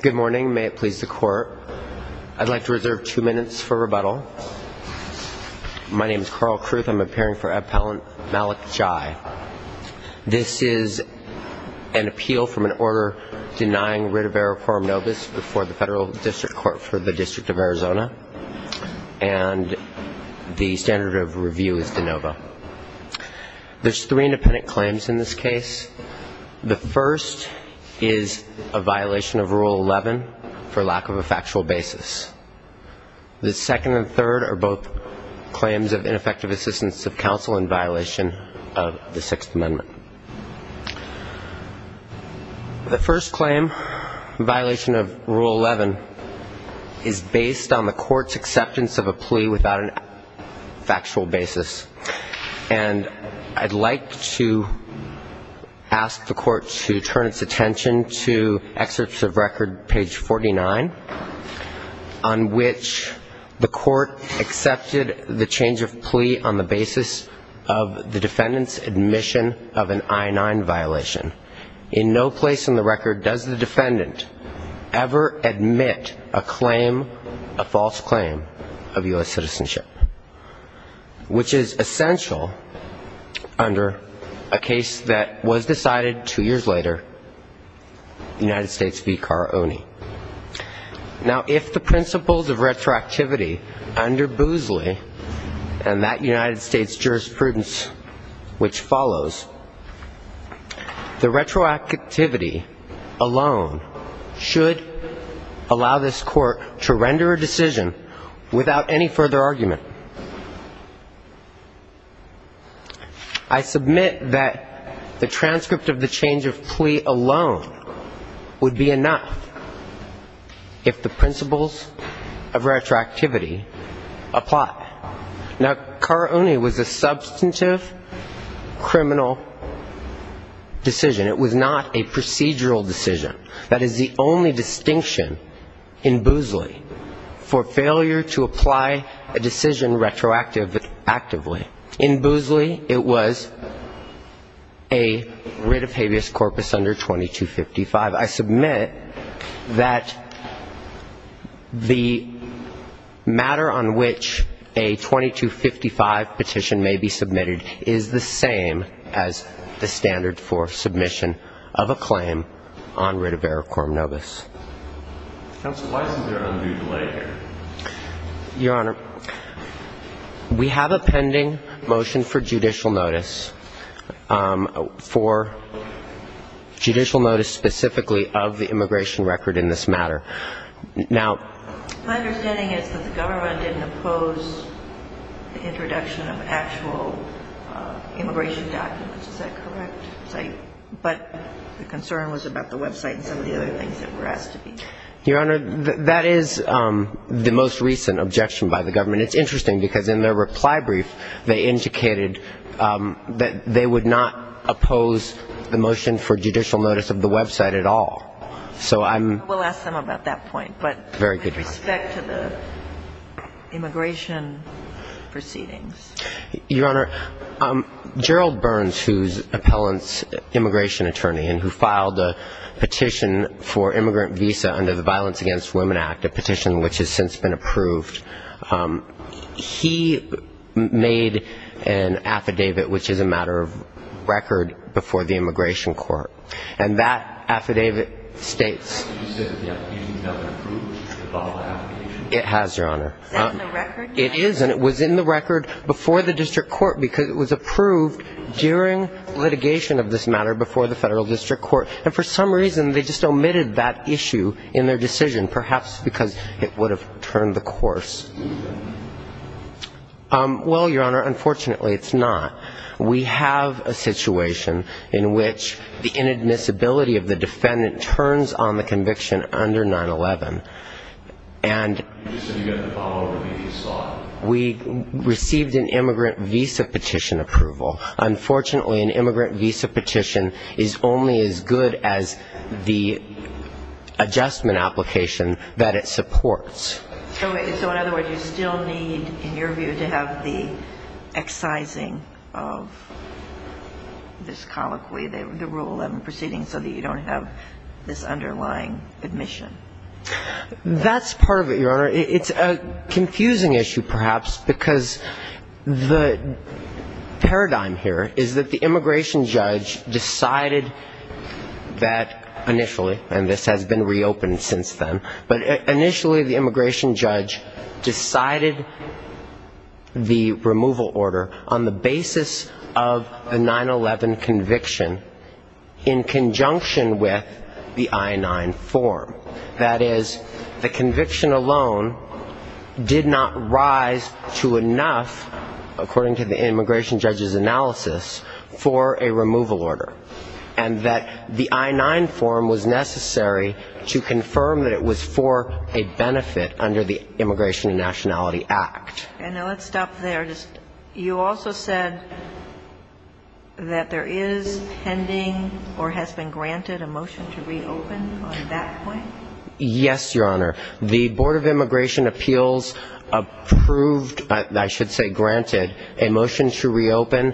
Good morning. May it please the court. I'd like to reserve two minutes for rebuttal. My name is Carl Kruth. I'm appearing for Appellant Malik Njai. This is an appeal from an order denying writ of error quorum novus before the Federal District Court for the District of Arizona, and the standard of review is de novo. There's three independent claims in this case. The first is a violation of Rule 11 for lack of a factual basis. The second and third are both claims of ineffective assistance of counsel in violation of the Sixth Amendment. The first claim, violation of Rule 11, is based on the court's acceptance of a plea without a factual basis. And I'd like to ask the court to turn its attention to excerpts of record, page 49, on which the court accepted the change of plea on the basis of the defendant's admission of an I-9 violation. In no place in the record does the defendant ever admit a claim, a false claim, of U.S. citizenship, which is essential under a case that was decided two years later, United States v. Caraone. Now, if the principles of retroactivity under Boozley and that United States jurisprudence which follows, the retroactivity alone should allow this court to render a decision without any further argument. I submit that the transcript of the change of plea alone would be enough if the principles of retroactivity apply. Now, Caraone was a substantive criminal decision. It was not a procedural decision. That is the only distinction in Boozley for failure to apply a decision retroactively. In Boozley, it was a writ of habeas corpus under 2255. I submit that the matter on which a 2255 petition may be submitted is the same as the standard for submission of a claim on writ of error under Coram nobis. Q. Counsel, why isn't there an undue delay here? A. Your Honor, we have a pending motion for judicial notice, for judicial notice specifically of the immigration record in this matter. Now ---- Q. My understanding is that the government didn't oppose the introduction of actual immigration documents. Is that correct? But the concern was about the website and some other things that were asked to be ---- A. Your Honor, that is the most recent objection by the government. It's interesting because in their reply brief, they indicated that they would not oppose the motion for judicial notice of the website at all. So I'm ---- Q. We'll ask them about that point, but with respect to the immigration proceedings. A. Your Honor, Gerald Burns, who's appellant's immigration attorney and who filed a petition for immigrant visa under the Violence Against Women Act, a petition which has since been approved, he made an affidavit which is a matter of record before the immigration court. And that affidavit states ---- Q. You said that the affidavit was never approved? A. It has, Your Honor. Q. Is that in the record? A. It is, and it was in the record before the district court because it was approved during litigation of this matter before the federal district court. And for some reason, they just omitted that issue in their decision, perhaps because it would have turned the course. Well, Your Honor, unfortunately, it's not. We have a situation in which the inadmissibility of the defendant turns on the conviction under 9-11, and we received an immigrant visa petition approval. Unfortunately, an immigrant visa petition is only as good as the adjustment application that it supports. Q. So in other words, you still need, in your view, to have the excising of this colloquy, the Rule 11 proceedings, so that you don't have this underlying admission? A. That's part of it, Your Honor. It's a confusing issue, perhaps, because the ---- paradigm here is that the immigration judge decided that initially, and this has been reopened since then, but initially the immigration judge decided the removal order on the basis of a 9-11 conviction in conjunction with the I-9 form. That is, the conviction alone did not rise to enough, according to the immigration judge's analysis, for a removal order, and that the I-9 form was necessary to confirm that it was for a benefit under the Immigration and Nationality Act. Q. And now let's stop there. You also said that there is pending or has been granted a motion to reopen on that point? A. Yes, Your Honor. The Board of Immigration Appeals approved, I should say granted, a motion to reopen,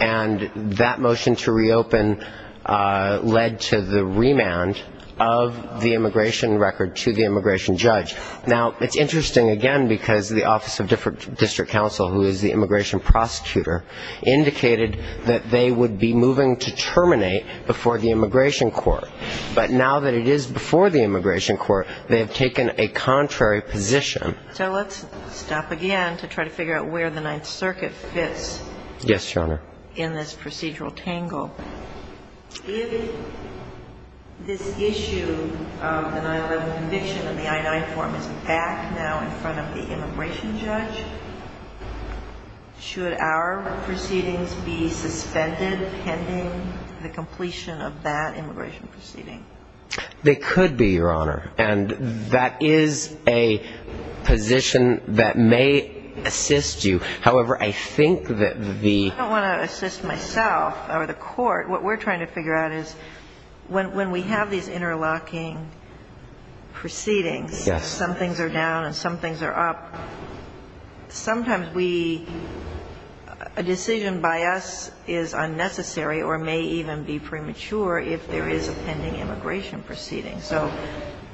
and that motion to reopen led to the remand of the immigration record to the immigration judge. Now, it's interesting, again, because the Office of District Counsel, who is the immigration prosecutor, indicated that they would be moving to terminate before the immigration court. But now that it is before the immigration court, they have taken a contrary position. Q. So let's stop again to try to figure out where the Ninth Circuit fits in this procedural tangle. If this issue of the 9-11 conviction in the I-9 form is back now in front of the immigration judge, should our proceedings be suspended pending the completion of that immigration proceeding? A. They could be, Your Honor. And that is a position that may assist you. However, I think that the ---- Q. I don't want to assist myself or the court. What we're trying to figure out is when we have these interlocking proceedings, some things are down and some things are up, sometimes we ---- a decision by us is not going to be made in the immigration proceeding. So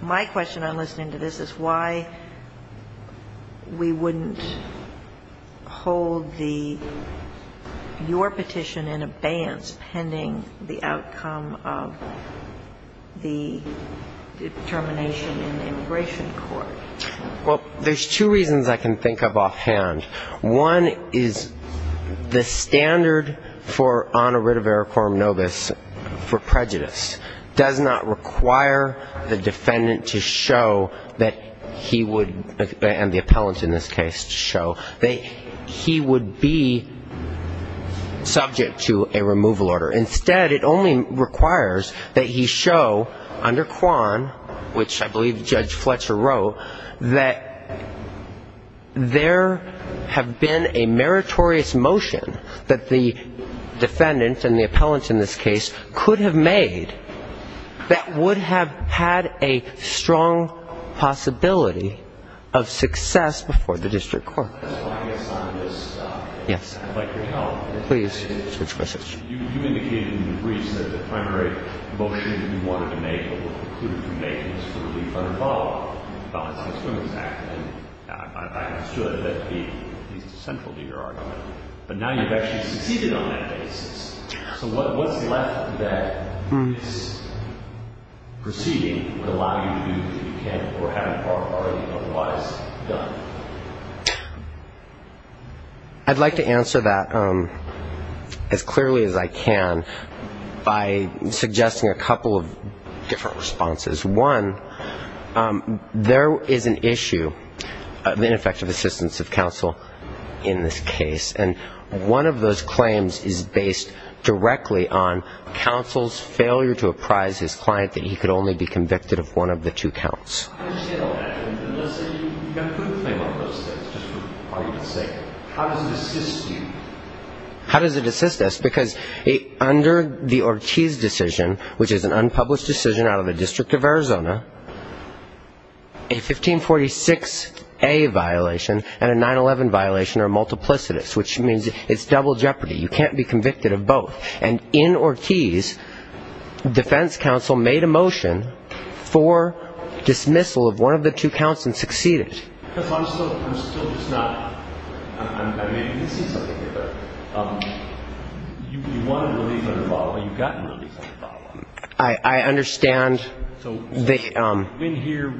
my question on listening to this is why we wouldn't hold the ---- your petition in abeyance pending the outcome of the determination in the immigration court. A. Well, there's two reasons I can think of offhand. One is the standard for honor writ of ericorum nobis for the defendant to show that he would ---- and the appellant in this case to show that he would be subject to a removal order. Instead, it only requires that he show under Kwan, which I believe Judge Fletcher wrote, that there have been a meritorious motion that the defendant and the appellant in this case could have made that he would be subject to a removal order. And that would have had a strong possibility of success before the district court. Q. I guess on this ---- A. Yes. Q. I'd like your help. A. Please. Q. You indicated in the briefs that the primary motion that you wanted to make or were concluded to make was for relief under the Ballots Against Women Act. And I understood that to be at least a central to your argument. But now you've actually succeeded on that basis. So what's left that this proceeding would allow you to do that you can't or haven't already otherwise done? A. I'd like to answer that as clearly as I can by suggesting a couple of different responses. One, there is an issue of ineffective assistance of counsel in this case. And one of those claims is based directly on counsel's failure to apprise his client that he could only be convicted of one of the two counts. Q. How does it assist you? A. How does it assist us? Because under the Ortiz decision, which is an unpublished decision out of the District of Arizona, a violation and a 9-11 violation are multiplicitous, which means it's double jeopardy. You can't be convicted of both. And in Ortiz, defense counsel made a motion for dismissal of one of the two counts and succeeded. Q. Because I'm still just not, I may be missing something here, but you wanted relief under the Ballot, but you've gotten relief under the Ballot. A. I understand. Q. So in here,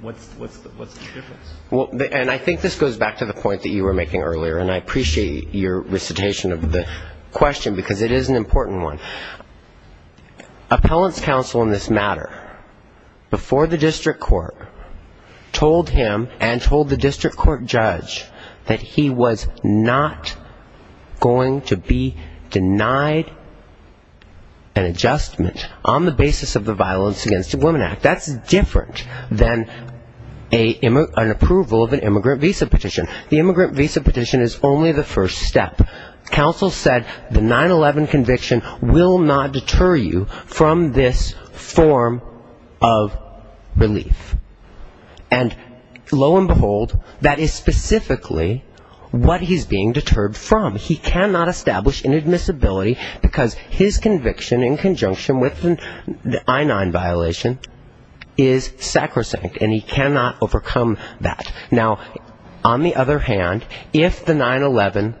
what's the difference? A. And I think this goes back to the point that you were making earlier, and I appreciate your recitation of the question, because it is an important one. Appellant's counsel in this matter, before the district court, told him and told the district court judge that he was not going to be denied an adjustment on the basis of the Violence Against Women Act. That's different than an approval of an immigrant visa petition. The immigrant visa petition is only the first step. Counsel said the 9-11 conviction will not deter you from this form of relief. And lo and behold, that is specifically what he's being deterred from doing. He cannot establish inadmissibility because his conviction in conjunction with the I-9 violation is sacrosanct, and he cannot overcome that. Now, on the other hand, if the 9-11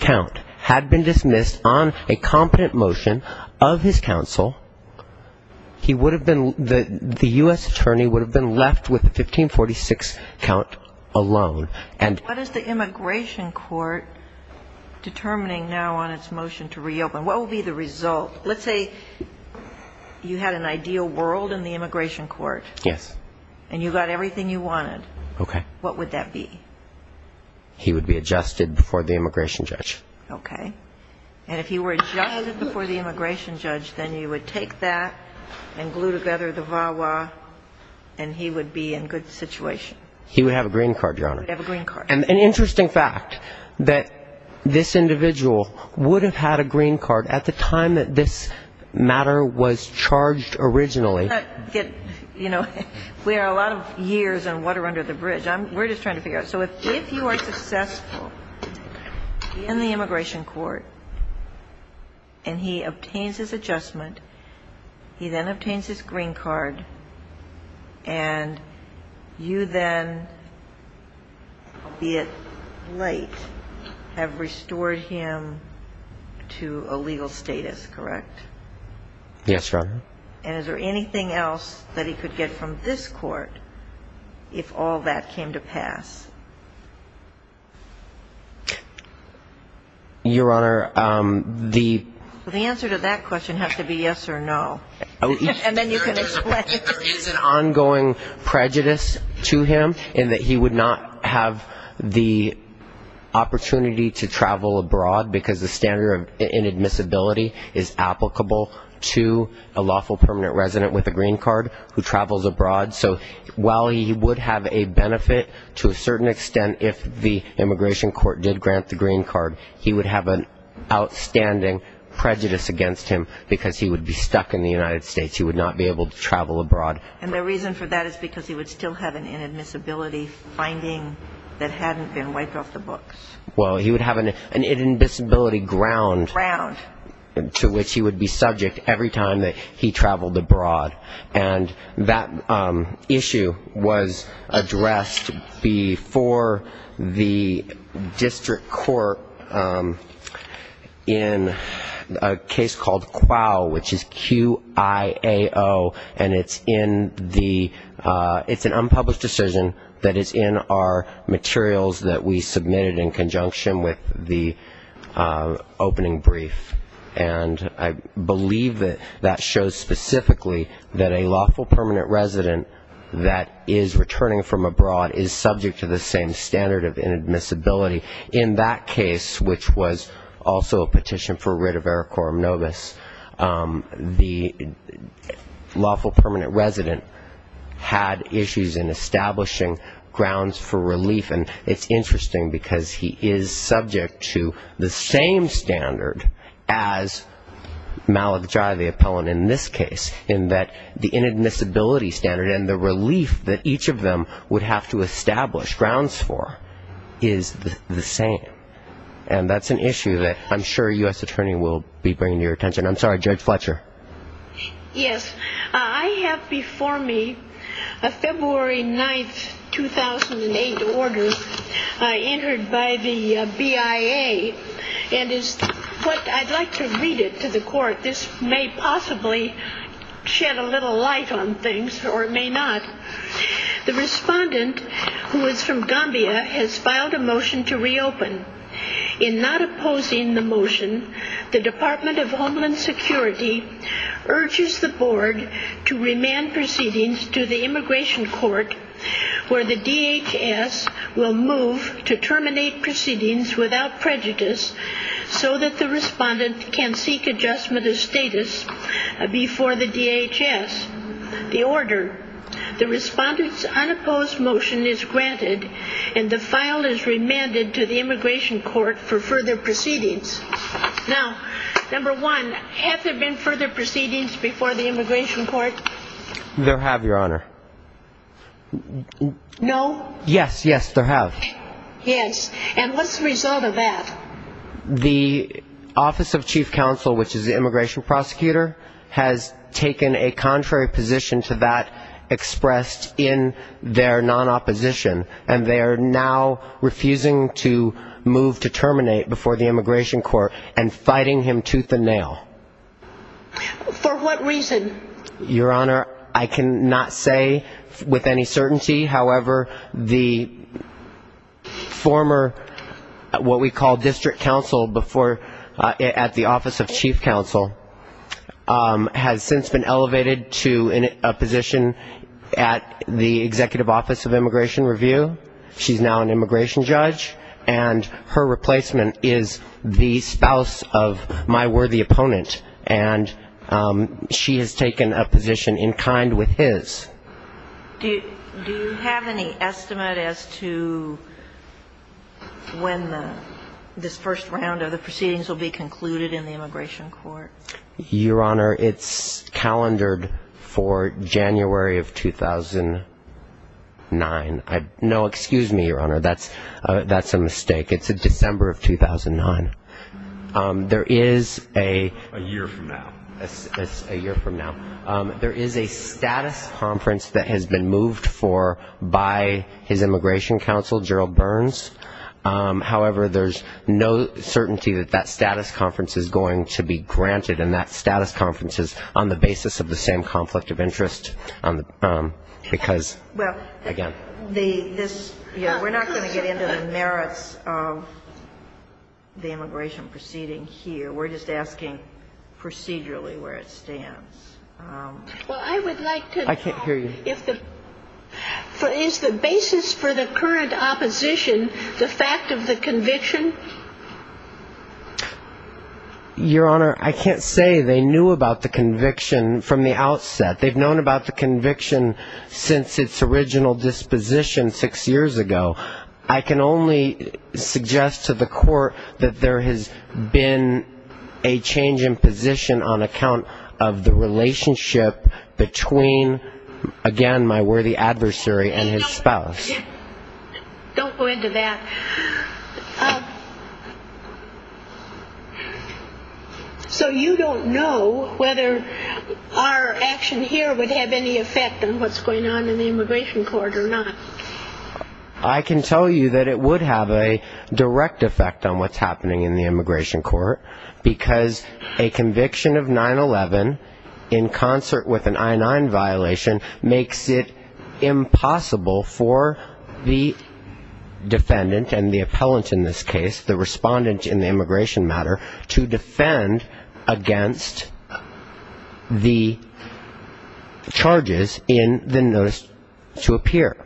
count had been dismissed on a competent motion of his counsel, the U.S. attorney would have been left with the 1546 count alone. Q. What is the immigration court determining now on its motion to reopen? What will be the result? Let's say you had an ideal world in the immigration court. A. Yes. Q. And you got everything you wanted. What would that be? A. He would be adjusted before the immigration judge. Q. Okay. And if he were adjusted before the immigration judge, then you would take that and glue together the VAWA, and he would be in good situation? A. He would have a green card, Your Honor. Q. He would have a green card. A. Yes. Q. Interesting fact, that this individual would have had a green card at the time that this matter was charged originally. A. You know, we are a lot of years in water under the bridge. We're just trying to figure out. So if you are successful in the immigration court and he obtains his adjustment, he then obtains his green card, and you then, albeit late, have restored him to a legal status, correct? A. Yes, Your Honor. Q. And is there anything else that he could get from this court if all that came to pass? A. Your Honor, the ---- Q. The answer to that question has to be yes or no, and then you can explain. A. There is an ongoing prejudice to him in that he would not have the opportunity to travel abroad because the standard of inadmissibility is applicable to a lawful permanent resident with a green card who travels abroad. So while he would have a benefit to a certain extent if the immigration court did grant the green card, he would have an outstanding prejudice against him because he would be stuck in the United States. He would not be able to travel abroad. Q. And the reason for that is because he would still have an inadmissibility finding that hadn't been wiped off the books? A. Well, he would have an inadmissibility ground to which he would be subject every time that he traveled abroad. And that issue was addressed before the district court in a case called QIAO, which is Q-I-A-O, and it's in the unpublished decision that is in our materials that we submitted in conjunction with the opening brief. And I believe that that shows specifically that a lawful permanent resident that is returning from abroad is subject to the same standard of inadmissibility. In that case, which was also a petition for writ of ericorum nobis, the lawful permanent resident had issues in establishing grounds for relief. And it's interesting because he is subject to the same standard as Malajai the appellant in this case, in that the inadmissibility standard and the relief that each of them would have to establish grounds for is the same. And that's an issue that I'm sure a U.S. attorney will be bringing to your attention. I'm sorry, Judge Fletcher. Yes. I have before me a February 9, 2008 order entered by the BIA, and is what I'd like to read it to the court. This may possibly shed a little light on things, or it may not. The respondent who is from Gambia has filed a motion to reopen. In not opposing the motion, the BIA urges the board to remand proceedings to the immigration court, where the DHS will move to terminate proceedings without prejudice, so that the respondent can seek adjustment of status before the DHS. The order, the respondent's unopposed motion is granted, and the file is remanded to the immigration court for further proceedings. Now, number one, have there been further proceedings before the DHS? There have, Your Honor. No? Yes, yes, there have. Yes. And what's the result of that? The Office of Chief Counsel, which is the immigration prosecutor, has taken a contrary position to that expressed in their non-opposition, and they are now refusing to move to terminate before the DHS. For what reason? Your Honor, I cannot say with any certainty. However, the former what we call district counsel at the Office of Chief Counsel has since been elevated to a position at the Executive Office of Immigration Review. She's now an immigration judge, and her position is that she has taken a position in kind with his. Do you have any estimate as to when this first round of the proceedings will be concluded in the immigration court? Your Honor, it's calendared for January of 2009. No, excuse me, Your Honor, that's a mistake. It's a year from now. It's a year from now. There is a status conference that has been moved for by his immigration counsel, Gerald Burns. However, there's no certainty that that status conference is going to be granted, and that status conference is on the basis of the same conflict of interest, because, again. Well, we're not going to get into the merits of the immigration proceeding here. We're just asking you to consider procedurally where it stands. I can't hear you. Is the basis for the current opposition the fact of the conviction? Your Honor, I can't say they knew about the conviction from the outset. They've known about the conviction since its original disposition six years ago. I can only suggest to the court that there has been a change in position since its original disposition. On account of the relationship between, again, my worthy adversary and his spouse. Don't go into that. So you don't know whether our action here would have any effect on what's going on in the immigration court or not? I can tell you that it would have a direct effect on what's happening in the immigration court, because a conviction of 9-11 in concert with an I-9 violation makes it impossible for the defendant and the appellant in this case, the respondent in the immigration matter, to defend against the charges in the notice to appear.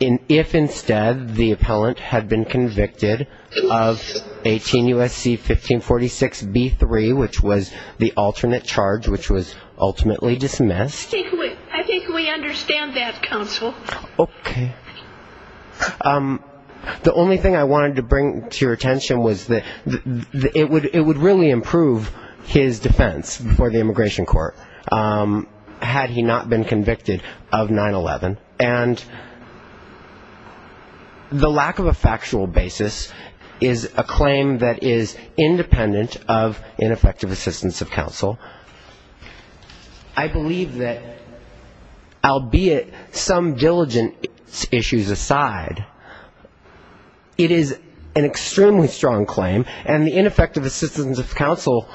If instead the appellant had been convicted of 18 9-11, which was the alternate charge, which was ultimately dismissed. I think we understand that, counsel. Okay. The only thing I wanted to bring to your attention was that it would really improve his defense before the immigration court, had he not been convicted of 9-11. And the lack of a factual basis is a claim that is independent of ineffective assessment. I believe that, albeit some diligent issues aside, it is an extremely strong claim, and the ineffective assistance of counsel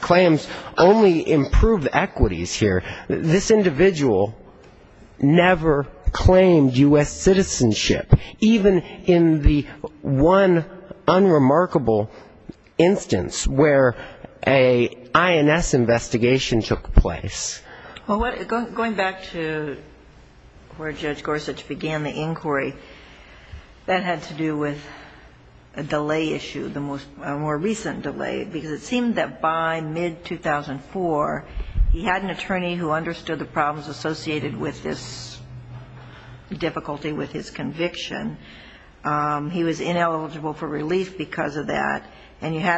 claims only improve equities here. This individual never claimed U.S. citizenship, even in the one unremarkable instance of where an INS investigation took place. Well, going back to where Judge Gorsuch began the inquiry, that had to do with a delay issue, a more recent delay, because it seemed that by mid-2004, he had an attorney who understood the problems associated with this difficulty with his conviction. He was ineligible for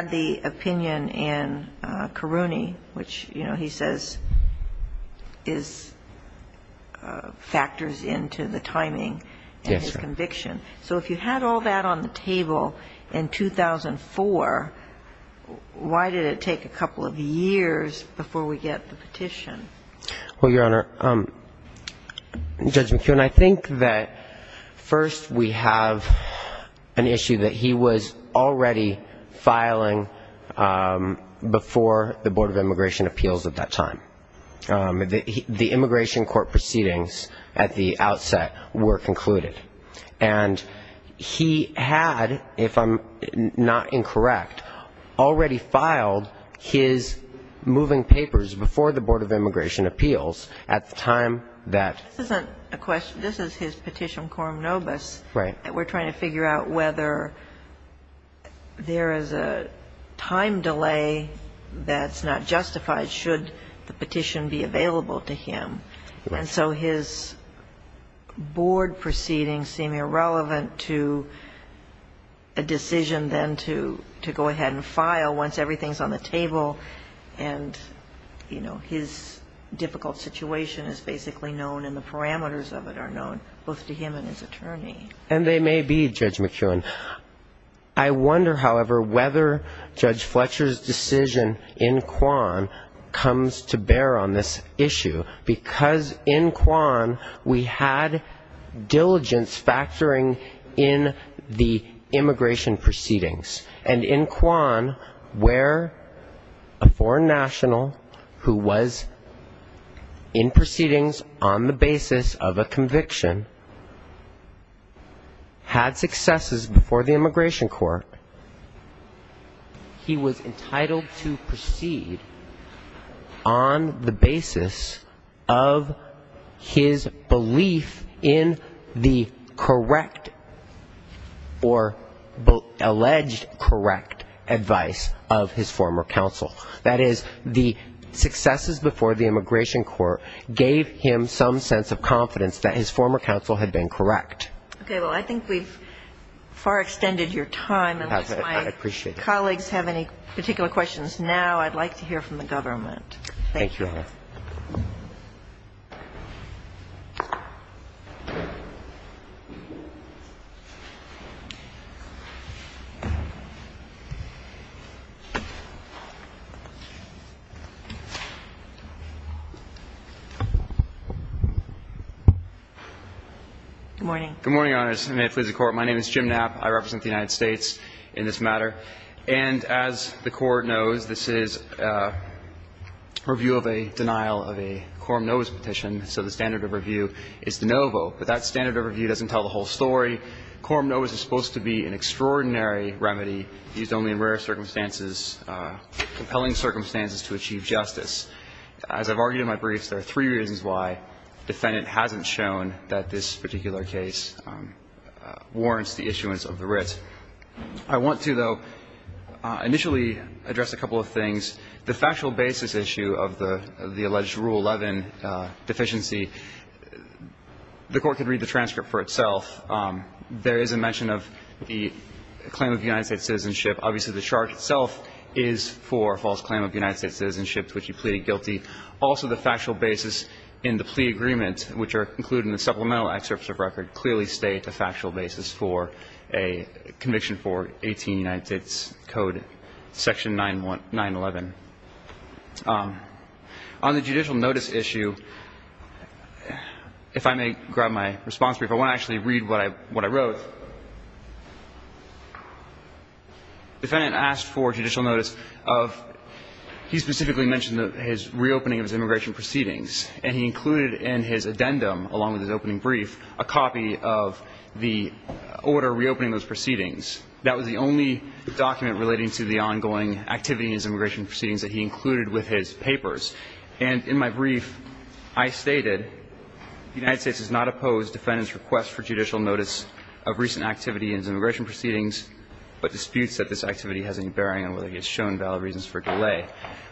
the opinion in Caruni, which, you know, he says is factors into the timing of his conviction. So if you had all that on the table in 2004, why did it take a couple of years before we get the petition? Well, Your Honor, Judge McKeown, I think that, first, we have an issue that he was already filing a petition, and I think that the immigration court proceedings at the outset were concluded. And he had, if I'm not incorrect, already filed his moving papers before the Board of Immigration Appeals at the time that... This isn't a question. This is his petition quorum nobis. Right. And we're trying to figure out whether there is a time delay that's not justified should the petition be available to him. And so his board proceedings seem irrelevant to a decision then to go ahead and file once everything's on the table and, you know, his difficult situation is basically known and the parameters of it are known, both to him and his attorney. And they may be, Judge McKeown. I wonder, however, whether Judge Fletcher's decision in Kwan comes to bear on this issue, because in Kwan, we had diligence factoring in the immigration proceedings. And in Kwan, where a foreign national who was in proceedings on the basis of a belief in the correct or alleged correct advice of his former counsel. That is, the successes before the immigration court gave him some sense of responsibility. Thank you. Thank you, Your Honor. Thank you. Thank you. Good morning. Good morning, Your Honor, and may it please the Court. My name is Jim Knapp. I represent the United States in this matter. And as the Court knows, this is a review of a denial of a quorum nobis petition, so the standard of review is de novo. But that standard of review doesn't tell the whole story. Quorum nobis is supposed to be an extraordinary remedy used only in rare circumstances, compelling circumstances to achieve justice. As I've argued in my briefs, there are three reasons why the defendant hasn't shown that this particular case warrants the issuance of the writ. I want to, though, initially address a couple of things. The factual basis issue of the alleged Rule 11 deficiency, the Court could read the transcript for itself. There is a mention of the claim of United States citizenship. Obviously, the charge itself is for false claim of United States citizenship to which he pleaded guilty. Also, the factual basis in the plea agreement, which are included in the supplemental excerpts of record, clearly state the factual basis for a conviction for 18 United States Code, Section 9-11. On the judicial notice issue, if I may grab my response brief. I want to actually read what I wrote. The defendant asked for judicial notice of he specifically mentioned his reopening of his immigration proceedings, and he included in his addendum, along with his opening brief, a copy of the order reopening those proceedings. That was the only document relating to the ongoing activity in his immigration proceedings that he included with his papers. And in my brief, I stated the United States does not oppose the defendant's request for judicial notice of recent activity in his immigration proceedings, but disputes that this activity has any bearing on whether he has shown valid reasons for delay.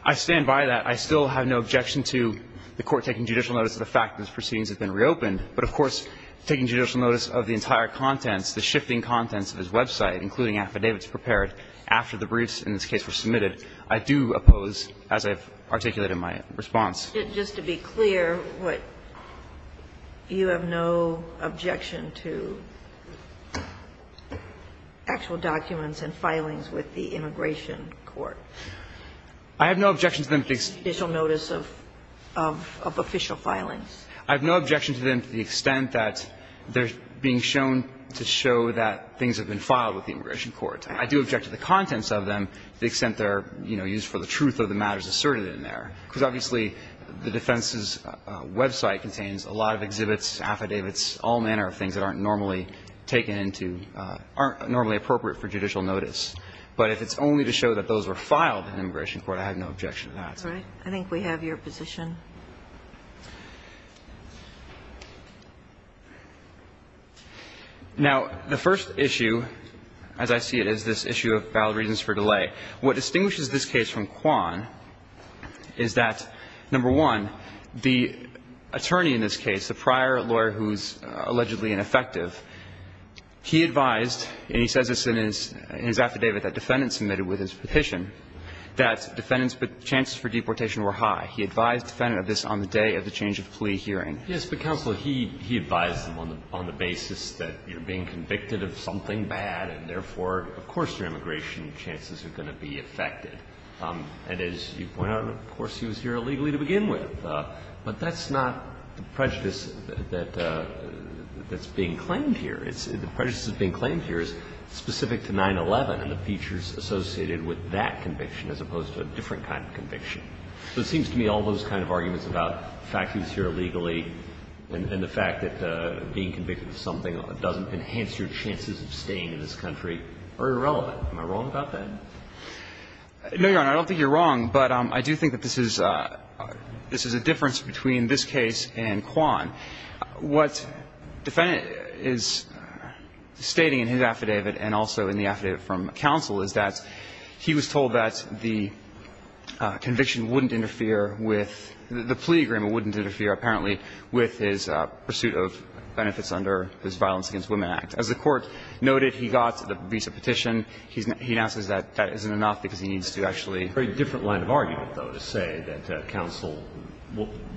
I stand by that. I still have no objection to the Court taking judicial notice of the fact that his proceedings have been reopened, but of course taking judicial notice of the entire contents, the shifting contents of his website, including affidavits prepared after the briefs in this case were submitted. I do oppose, as I've articulated in my response. Just to be clear, you have no objection to actual documents and filings with the Immigration Court? I have no objection to them. Judicial notice of official filings. I have no objection to them to the extent that they're being shown to show that things have been filed with the Immigration Court. I do object to the contents of them to the extent they're, you know, used for the truth of the matters asserted in there, because obviously the defense's website contains a lot of exhibits, affidavits, all manner of things that aren't normally taken into or aren't normally appropriate for judicial notice. But if it's only to show that those were filed in the Immigration Court, I have no objection to that. I think we have your position. Now, the first issue, as I see it, is this issue of valid reasons for delay. What distinguishes this case from Kwan is that, number one, the attorney in this case, the prior lawyer who's allegedly ineffective, he advised, and he says this in his affidavit that defendants submitted with his petition, that defendants submitted with his petition. He advised defendants that the chances for deportation were high. He advised defendants of this on the day of the change of plea hearing. Yes, but counsel, he advised them on the basis that you're being convicted of something bad and therefore, of course, your immigration chances are going to be affected. And as you point out, of course, he was here illegally to begin with. But that's not the prejudice that's being claimed here. The prejudice that's being claimed here is specific to 9-11 and the features associated with that conviction as opposed to a different kind of conviction. So it seems to me all those kind of arguments about the fact that he was here illegally and the fact that being convicted of something doesn't enhance your chances of staying in this country are irrelevant. Am I wrong about that? No, Your Honor. I don't think you're wrong. But I do think that this is a difference between this case and Kwan. What the defendant is stating in his affidavit and also in the affidavit from counsel is that he was told that the conviction wouldn't interfere with the plea agreement wouldn't interfere apparently with his pursuit of benefits under his Violence Against Women Act. As the Court noted, he got the visa petition. He announces that that isn't enough because he needs to actually ---- A very different line of argument, though, to say that counsel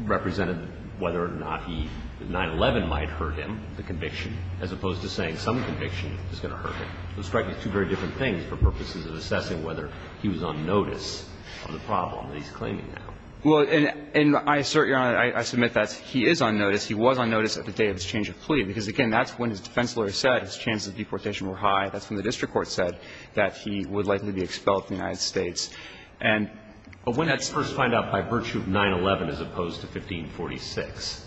represented whether or not he ---- 9-11 might hurt him, the conviction, as opposed to saying some conviction is going to hurt him. Those strike me as two very different things for purposes of assessing whether he was on notice of the problem that he's claiming now. Well, and I assert, Your Honor, I submit that he is on notice. He was on notice at the day of his change of plea, because, again, that's when his defense lawyer said his chances of deportation were high. That's when the district court said that he would likely be expelled from the United States. And when that's first found out by virtue of 9-11 as opposed to 1546?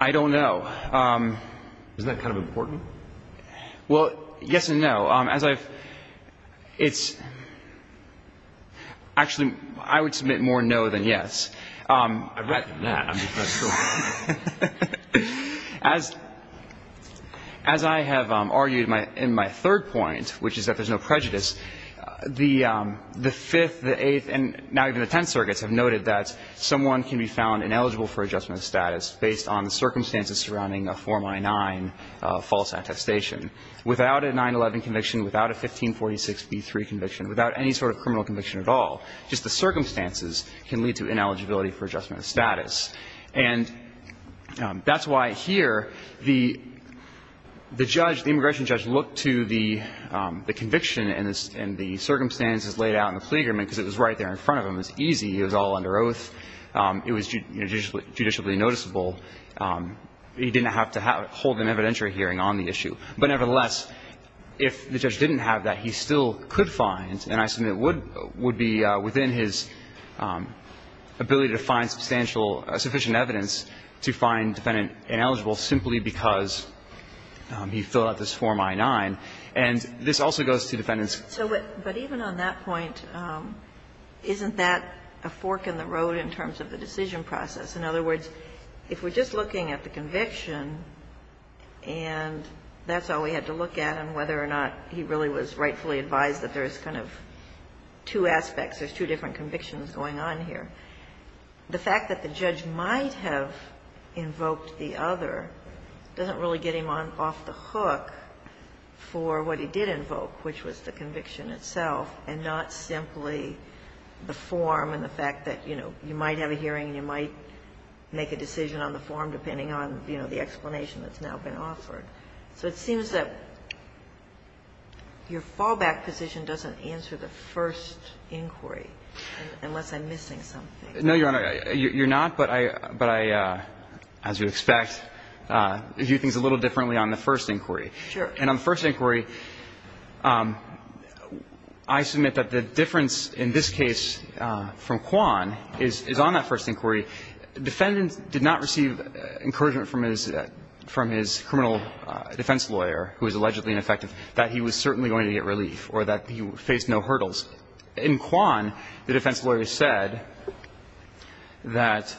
I don't know. Isn't that kind of important? Well, yes and no. As I've ---- It's ---- Actually, I would submit more no than yes. I reckon that. As I have argued in my third point, which is that there's no prejudice, the Fifth, the Eighth, and now even the Tenth Circuits have noted that someone can be found ineligible for adjustment of status based on the circumstances surrounding a former I-9 false attestation. Without a 9-11 conviction, without a 1546b3 conviction, without any sort of criminal conviction at all, just the circumstances can lead to ineligibility for adjustment of status. And that's why here the judge, the immigration judge, looked to the conviction and the circumstances laid out in the plea agreement because it was right there in front of him. It was easy. It was all under oath. It was judicially noticeable. He didn't have to hold an evidentiary hearing on the issue. But nevertheless, if the judge didn't have that, he still could find, and I submit it would be within his ability to find substantial, sufficient evidence to find defendant ineligible simply because he filled out this form I-9. And this also goes to defendants. So what – but even on that point, isn't that a fork in the road in terms of the decision process? In other words, if we're just looking at the conviction and that's all we had to look at and whether or not he really was rightfully advised that there is kind of two aspects, there's two different convictions going on here, the fact that the judge might have invoked the other doesn't really get him off the hook for what he did invoke, which was the conviction itself, and not simply the form and the fact that, you know, you might have a hearing and you might make a decision on the form depending on, you know, the explanation that's now been offered. So it seems that your fallback position doesn't answer the first inquiry, unless I'm missing something. No, Your Honor. You're not, but I, as you'd expect, view things a little differently on the first inquiry. Sure. And on the first inquiry, I submit that the difference in this case from Quan is on that first inquiry. The defendants did not receive encouragement from his criminal defense lawyer, who was allegedly ineffective, that he was certainly going to get relief or that he faced no hurdles. In Quan, the defense lawyer said that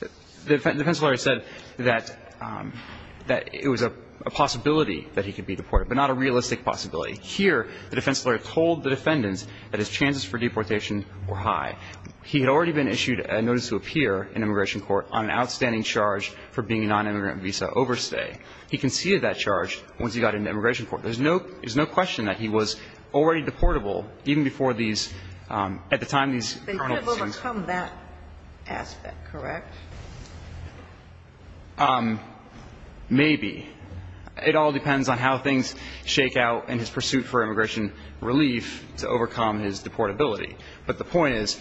the defense lawyer said that it was a possibility that he could be deported, but not a realistic possibility. Here, the defense lawyer told the defendants that his chances for deportation were high. He had already been issued a notice to appear in immigration court on an outstanding charge for being a nonimmigrant visa overstay. He conceded that charge once he got into immigration court. There's no question that he was already deportable even before these, at the time these criminal decisions occurred. They couldn't overcome that aspect, correct? Maybe. It all depends on how things shake out in his pursuit for immigration relief to overcome his deportability. But the point is,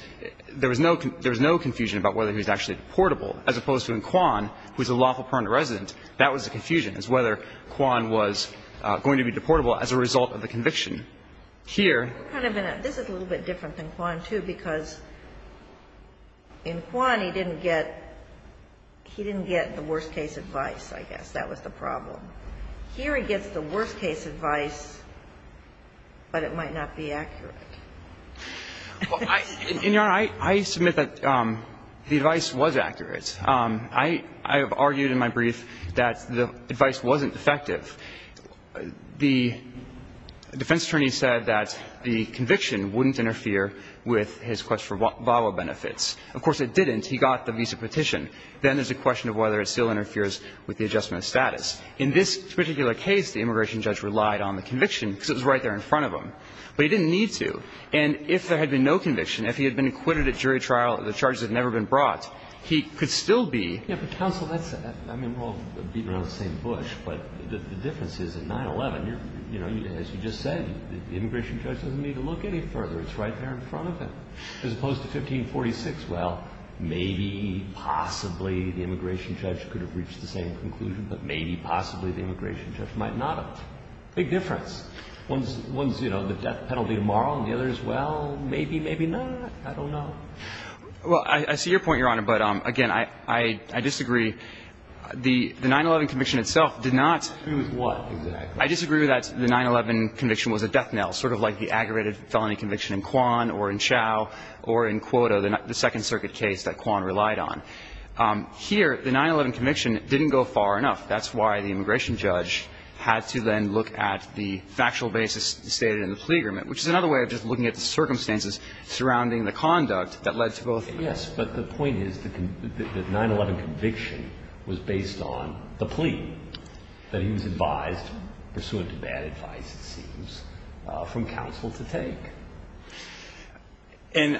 there was no confusion about whether he was actually deportable, as opposed to in Quan, who is a lawful permanent resident, that was the confusion, is whether Quan was going to be deportable as a result of the conviction. Here. This is a little bit different than Quan, too, because in Quan, he didn't get the worst case advice, I guess. That was the problem. Here he gets the worst case advice, but it might not be accurate. In your right, I submit that the advice was accurate. I have argued in my brief that the advice wasn't effective. The defense attorney said that the conviction wouldn't interfere with his request for VAWA benefits. Of course, it didn't. He got the visa petition. Then there's a question of whether it still interferes with the adjustment of status. In this particular case, the immigration judge relied on the conviction because it was right there in front of him. But he didn't need to. And if there had been no conviction, if he had been acquitted at jury trial, the charges had never been brought, he could still be. Yeah, but counsel, that's, I mean, we're all beating around the same bush, but the difference is, at 9-11, you're, you know, as you just said, the immigration judge doesn't need to look any further. It's right there in front of him. As opposed to 1546, well, maybe, possibly, the immigration judge could have reached the same conclusion, but maybe, possibly, the immigration judge might not have. One's, you know, the death penalty tomorrow, and the other is, well, maybe, maybe not. I don't know. Well, I see your point, Your Honor, but, again, I disagree. The 9-11 conviction itself did not. Disagree with what exactly? I disagree with that the 9-11 conviction was a death knell, sort of like the aggravated felony conviction in Quan or in Chau or in Cuota, the Second Circuit case that Quan relied on. Here, the 9-11 conviction didn't go far enough. That's why the immigration judge had to then look at the factual basis stated in the plea agreement, which is another way of just looking at the circumstances surrounding the conduct that led to both cases. Yes, but the point is the 9-11 conviction was based on the plea that he was advised, pursuant to bad advice, it seems, from counsel to take. And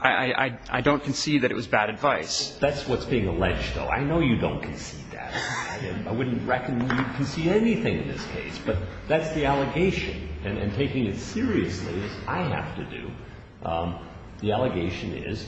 I don't concede that it was bad advice. That's what's being alleged, though. I know you don't concede that. I wouldn't reckon you concede anything in this case, but that's the allegation. And taking it seriously, as I have to do, the allegation is,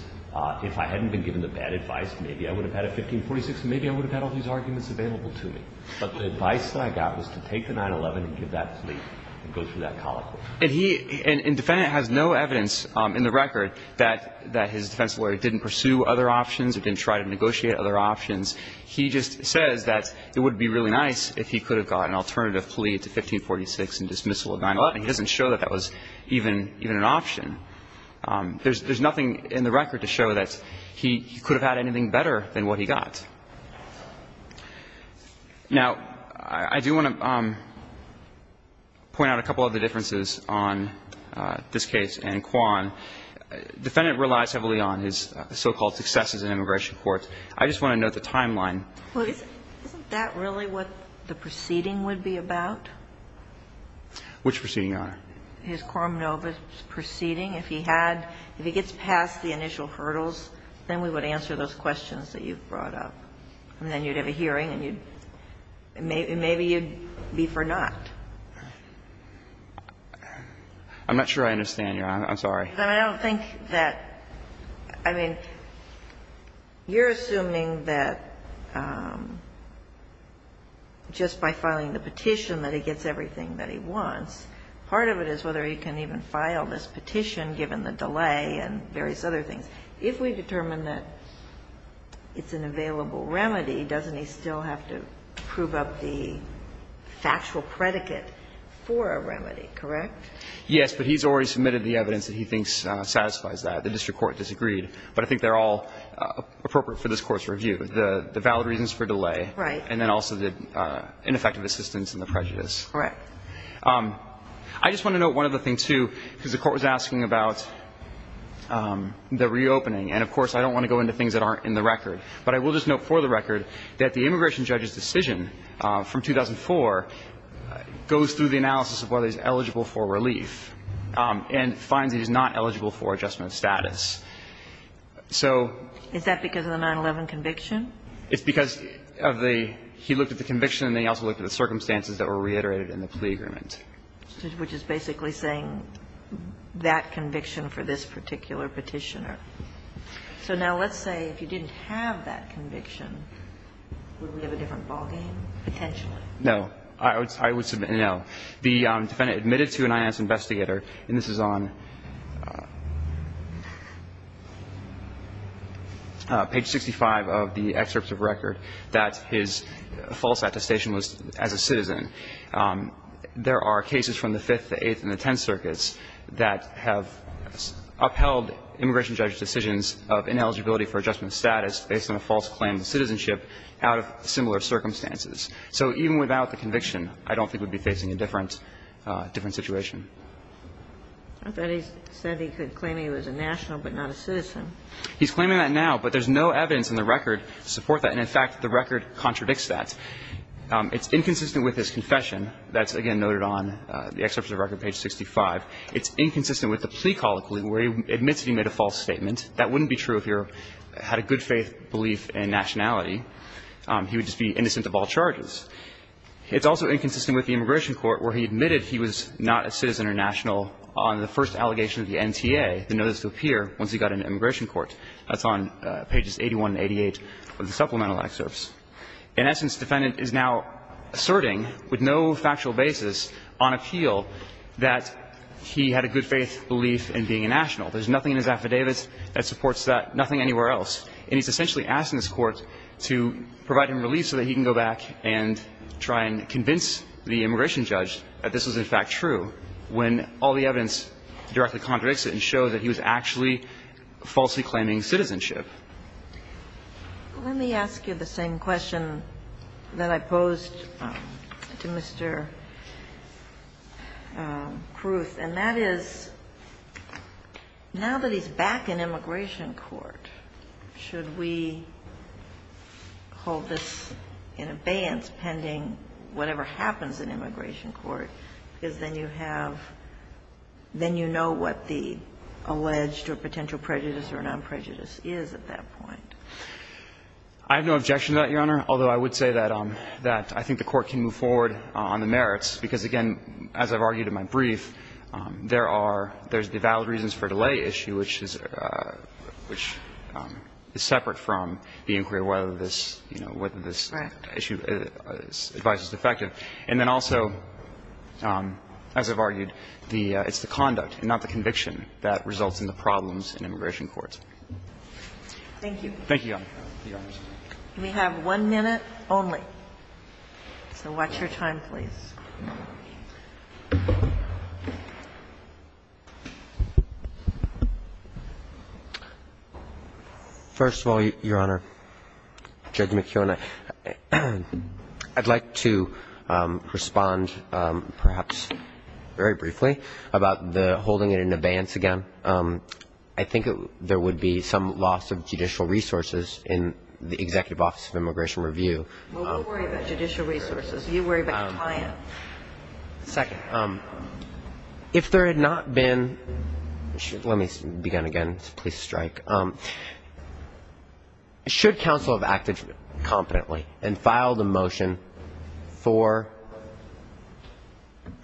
if I hadn't been given the bad advice, maybe I would have had a 1546, and maybe I would have had all these arguments available to me. But the advice that I got was to take the 9-11 and give that plea and go through that colicle. And he – and defendant has no evidence in the record that his defense lawyer didn't pursue other options or didn't try to negotiate other options. He just says that it would be really nice if he could have got an alternative plea to 1546 and dismissal of 9-11. He doesn't show that that was even an option. There's nothing in the record to show that he could have had anything better than what he got. Now, I do want to point out a couple of the differences on this case and Quan. Defendant relies heavily on his so-called successes in immigration courts. I just want to note the timeline. Well, isn't that really what the proceeding would be about? Which proceeding, Your Honor? His Corm Nova proceeding. If he had – if he gets past the initial hurdles, then we would answer those questions that you've brought up. And then you'd have a hearing and you'd – maybe you'd be for not. I'm not sure I understand, Your Honor. I'm sorry. I don't think that – I mean, you're assuming that just by filing the petition that he gets everything that he wants, part of it is whether he can even file this petition given the delay and various other things. If we determine that it's an available remedy, doesn't he still have to prove up the factual predicate for a remedy, correct? Yes. But he's already submitted the evidence that he thinks satisfies that. The district court disagreed. But I think they're all appropriate for this Court's review, the valid reasons for delay. Right. And then also the ineffective assistance and the prejudice. Correct. I just want to note one other thing, too, because the Court was asking about the reopening. And, of course, I don't want to go into things that aren't in the record. But I will just note for the record that the immigration judge's decision from 2004 goes through the analysis of whether he's eligible for relief and finds he's not eligible for adjustment of status. So – Is that because of the 9-11 conviction? It's because of the – he looked at the conviction and then he also looked at the agreement. Which is basically saying that conviction for this particular petitioner. So now let's say if you didn't have that conviction, would we have a different ballgame, potentially? No. I would submit no. The defendant admitted to an INS investigator, and this is on page 65 of the excerpts of record, that his false attestation was as a citizen. There are cases from the Fifth, the Eighth, and the Tenth Circuits that have upheld immigration judge's decisions of ineligibility for adjustment of status based on a false claim of citizenship out of similar circumstances. So even without the conviction, I don't think we'd be facing a different situation. I thought he said he could claim he was a national but not a citizen. He's claiming that now, but there's no evidence in the record to support that. And, in fact, the record contradicts that. It's inconsistent with his confession. That's, again, noted on the excerpts of record, page 65. It's inconsistent with the plea colloquy where he admits that he made a false statement. That wouldn't be true if he had a good faith belief in nationality. He would just be innocent of all charges. It's also inconsistent with the immigration court where he admitted he was not a citizen or national on the first allegation of the NTA, the notice to appear, once he got into immigration court. That's on pages 81 and 88 of the supplemental excerpts. In essence, defendant is now asserting with no factual basis on appeal that he had a good faith belief in being a national. There's nothing in his affidavits that supports that, nothing anywhere else. And he's essentially asking this Court to provide him relief so that he can go back and try and convince the immigration judge that this was, in fact, true, when all the evidence directly contradicts it and shows that he was actually falsely claiming citizenship. Let me ask you the same question that I posed to Mr. Kruth, and that is, now that he's back in immigration court, should we hold this in abeyance pending whatever happens in immigration court? Because then you have – then you know what the alleged or potential prejudice or non-prejudice is at that point. I have no objection to that, Your Honor, although I would say that I think the Court can move forward on the merits, because, again, as I've argued in my brief, there are – there's the valid reasons for delay issue, which is separate from the inquiry whether this, you know, whether this issue, this advice is effective. And then also, as I've argued, the – it's the conduct and not the conviction that results in the problems in immigration court. Thank you. Thank you, Your Honor. We have one minute only. So watch your time, please. First of all, Your Honor, Judge McKeown, I'd like to respond perhaps very briefly about the holding it in abeyance again. I think there would be some loss of judicial resources in the Executive Office of Immigration Review. Well, we'll worry about judicial resources. You worry about compliance. Second, if there had not been – let me begin again. Please strike. Should counsel have acted competently and filed a motion for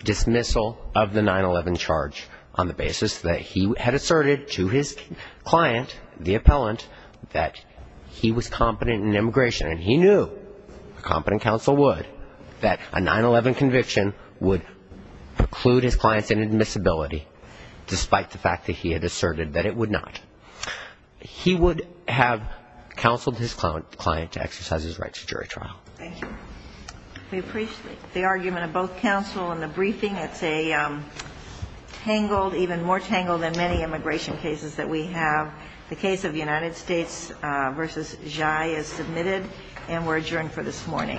dismissal of the 9-11 charge on the basis that he had asserted to his client, the appellant, that he was competent in immigration, and he knew, a competent counsel would, that a 9-11 conviction would preclude his client's inadmissibility, despite the fact that he had asserted that it would not, he would have counseled his client to exercise his right to jury trial. Thank you. We appreciate the argument of both counsel in the briefing. It's a tangled, even more tangled than many immigration cases that we have. The case of United States v. Zhai is submitted, and we're adjourned for this morning. All rise.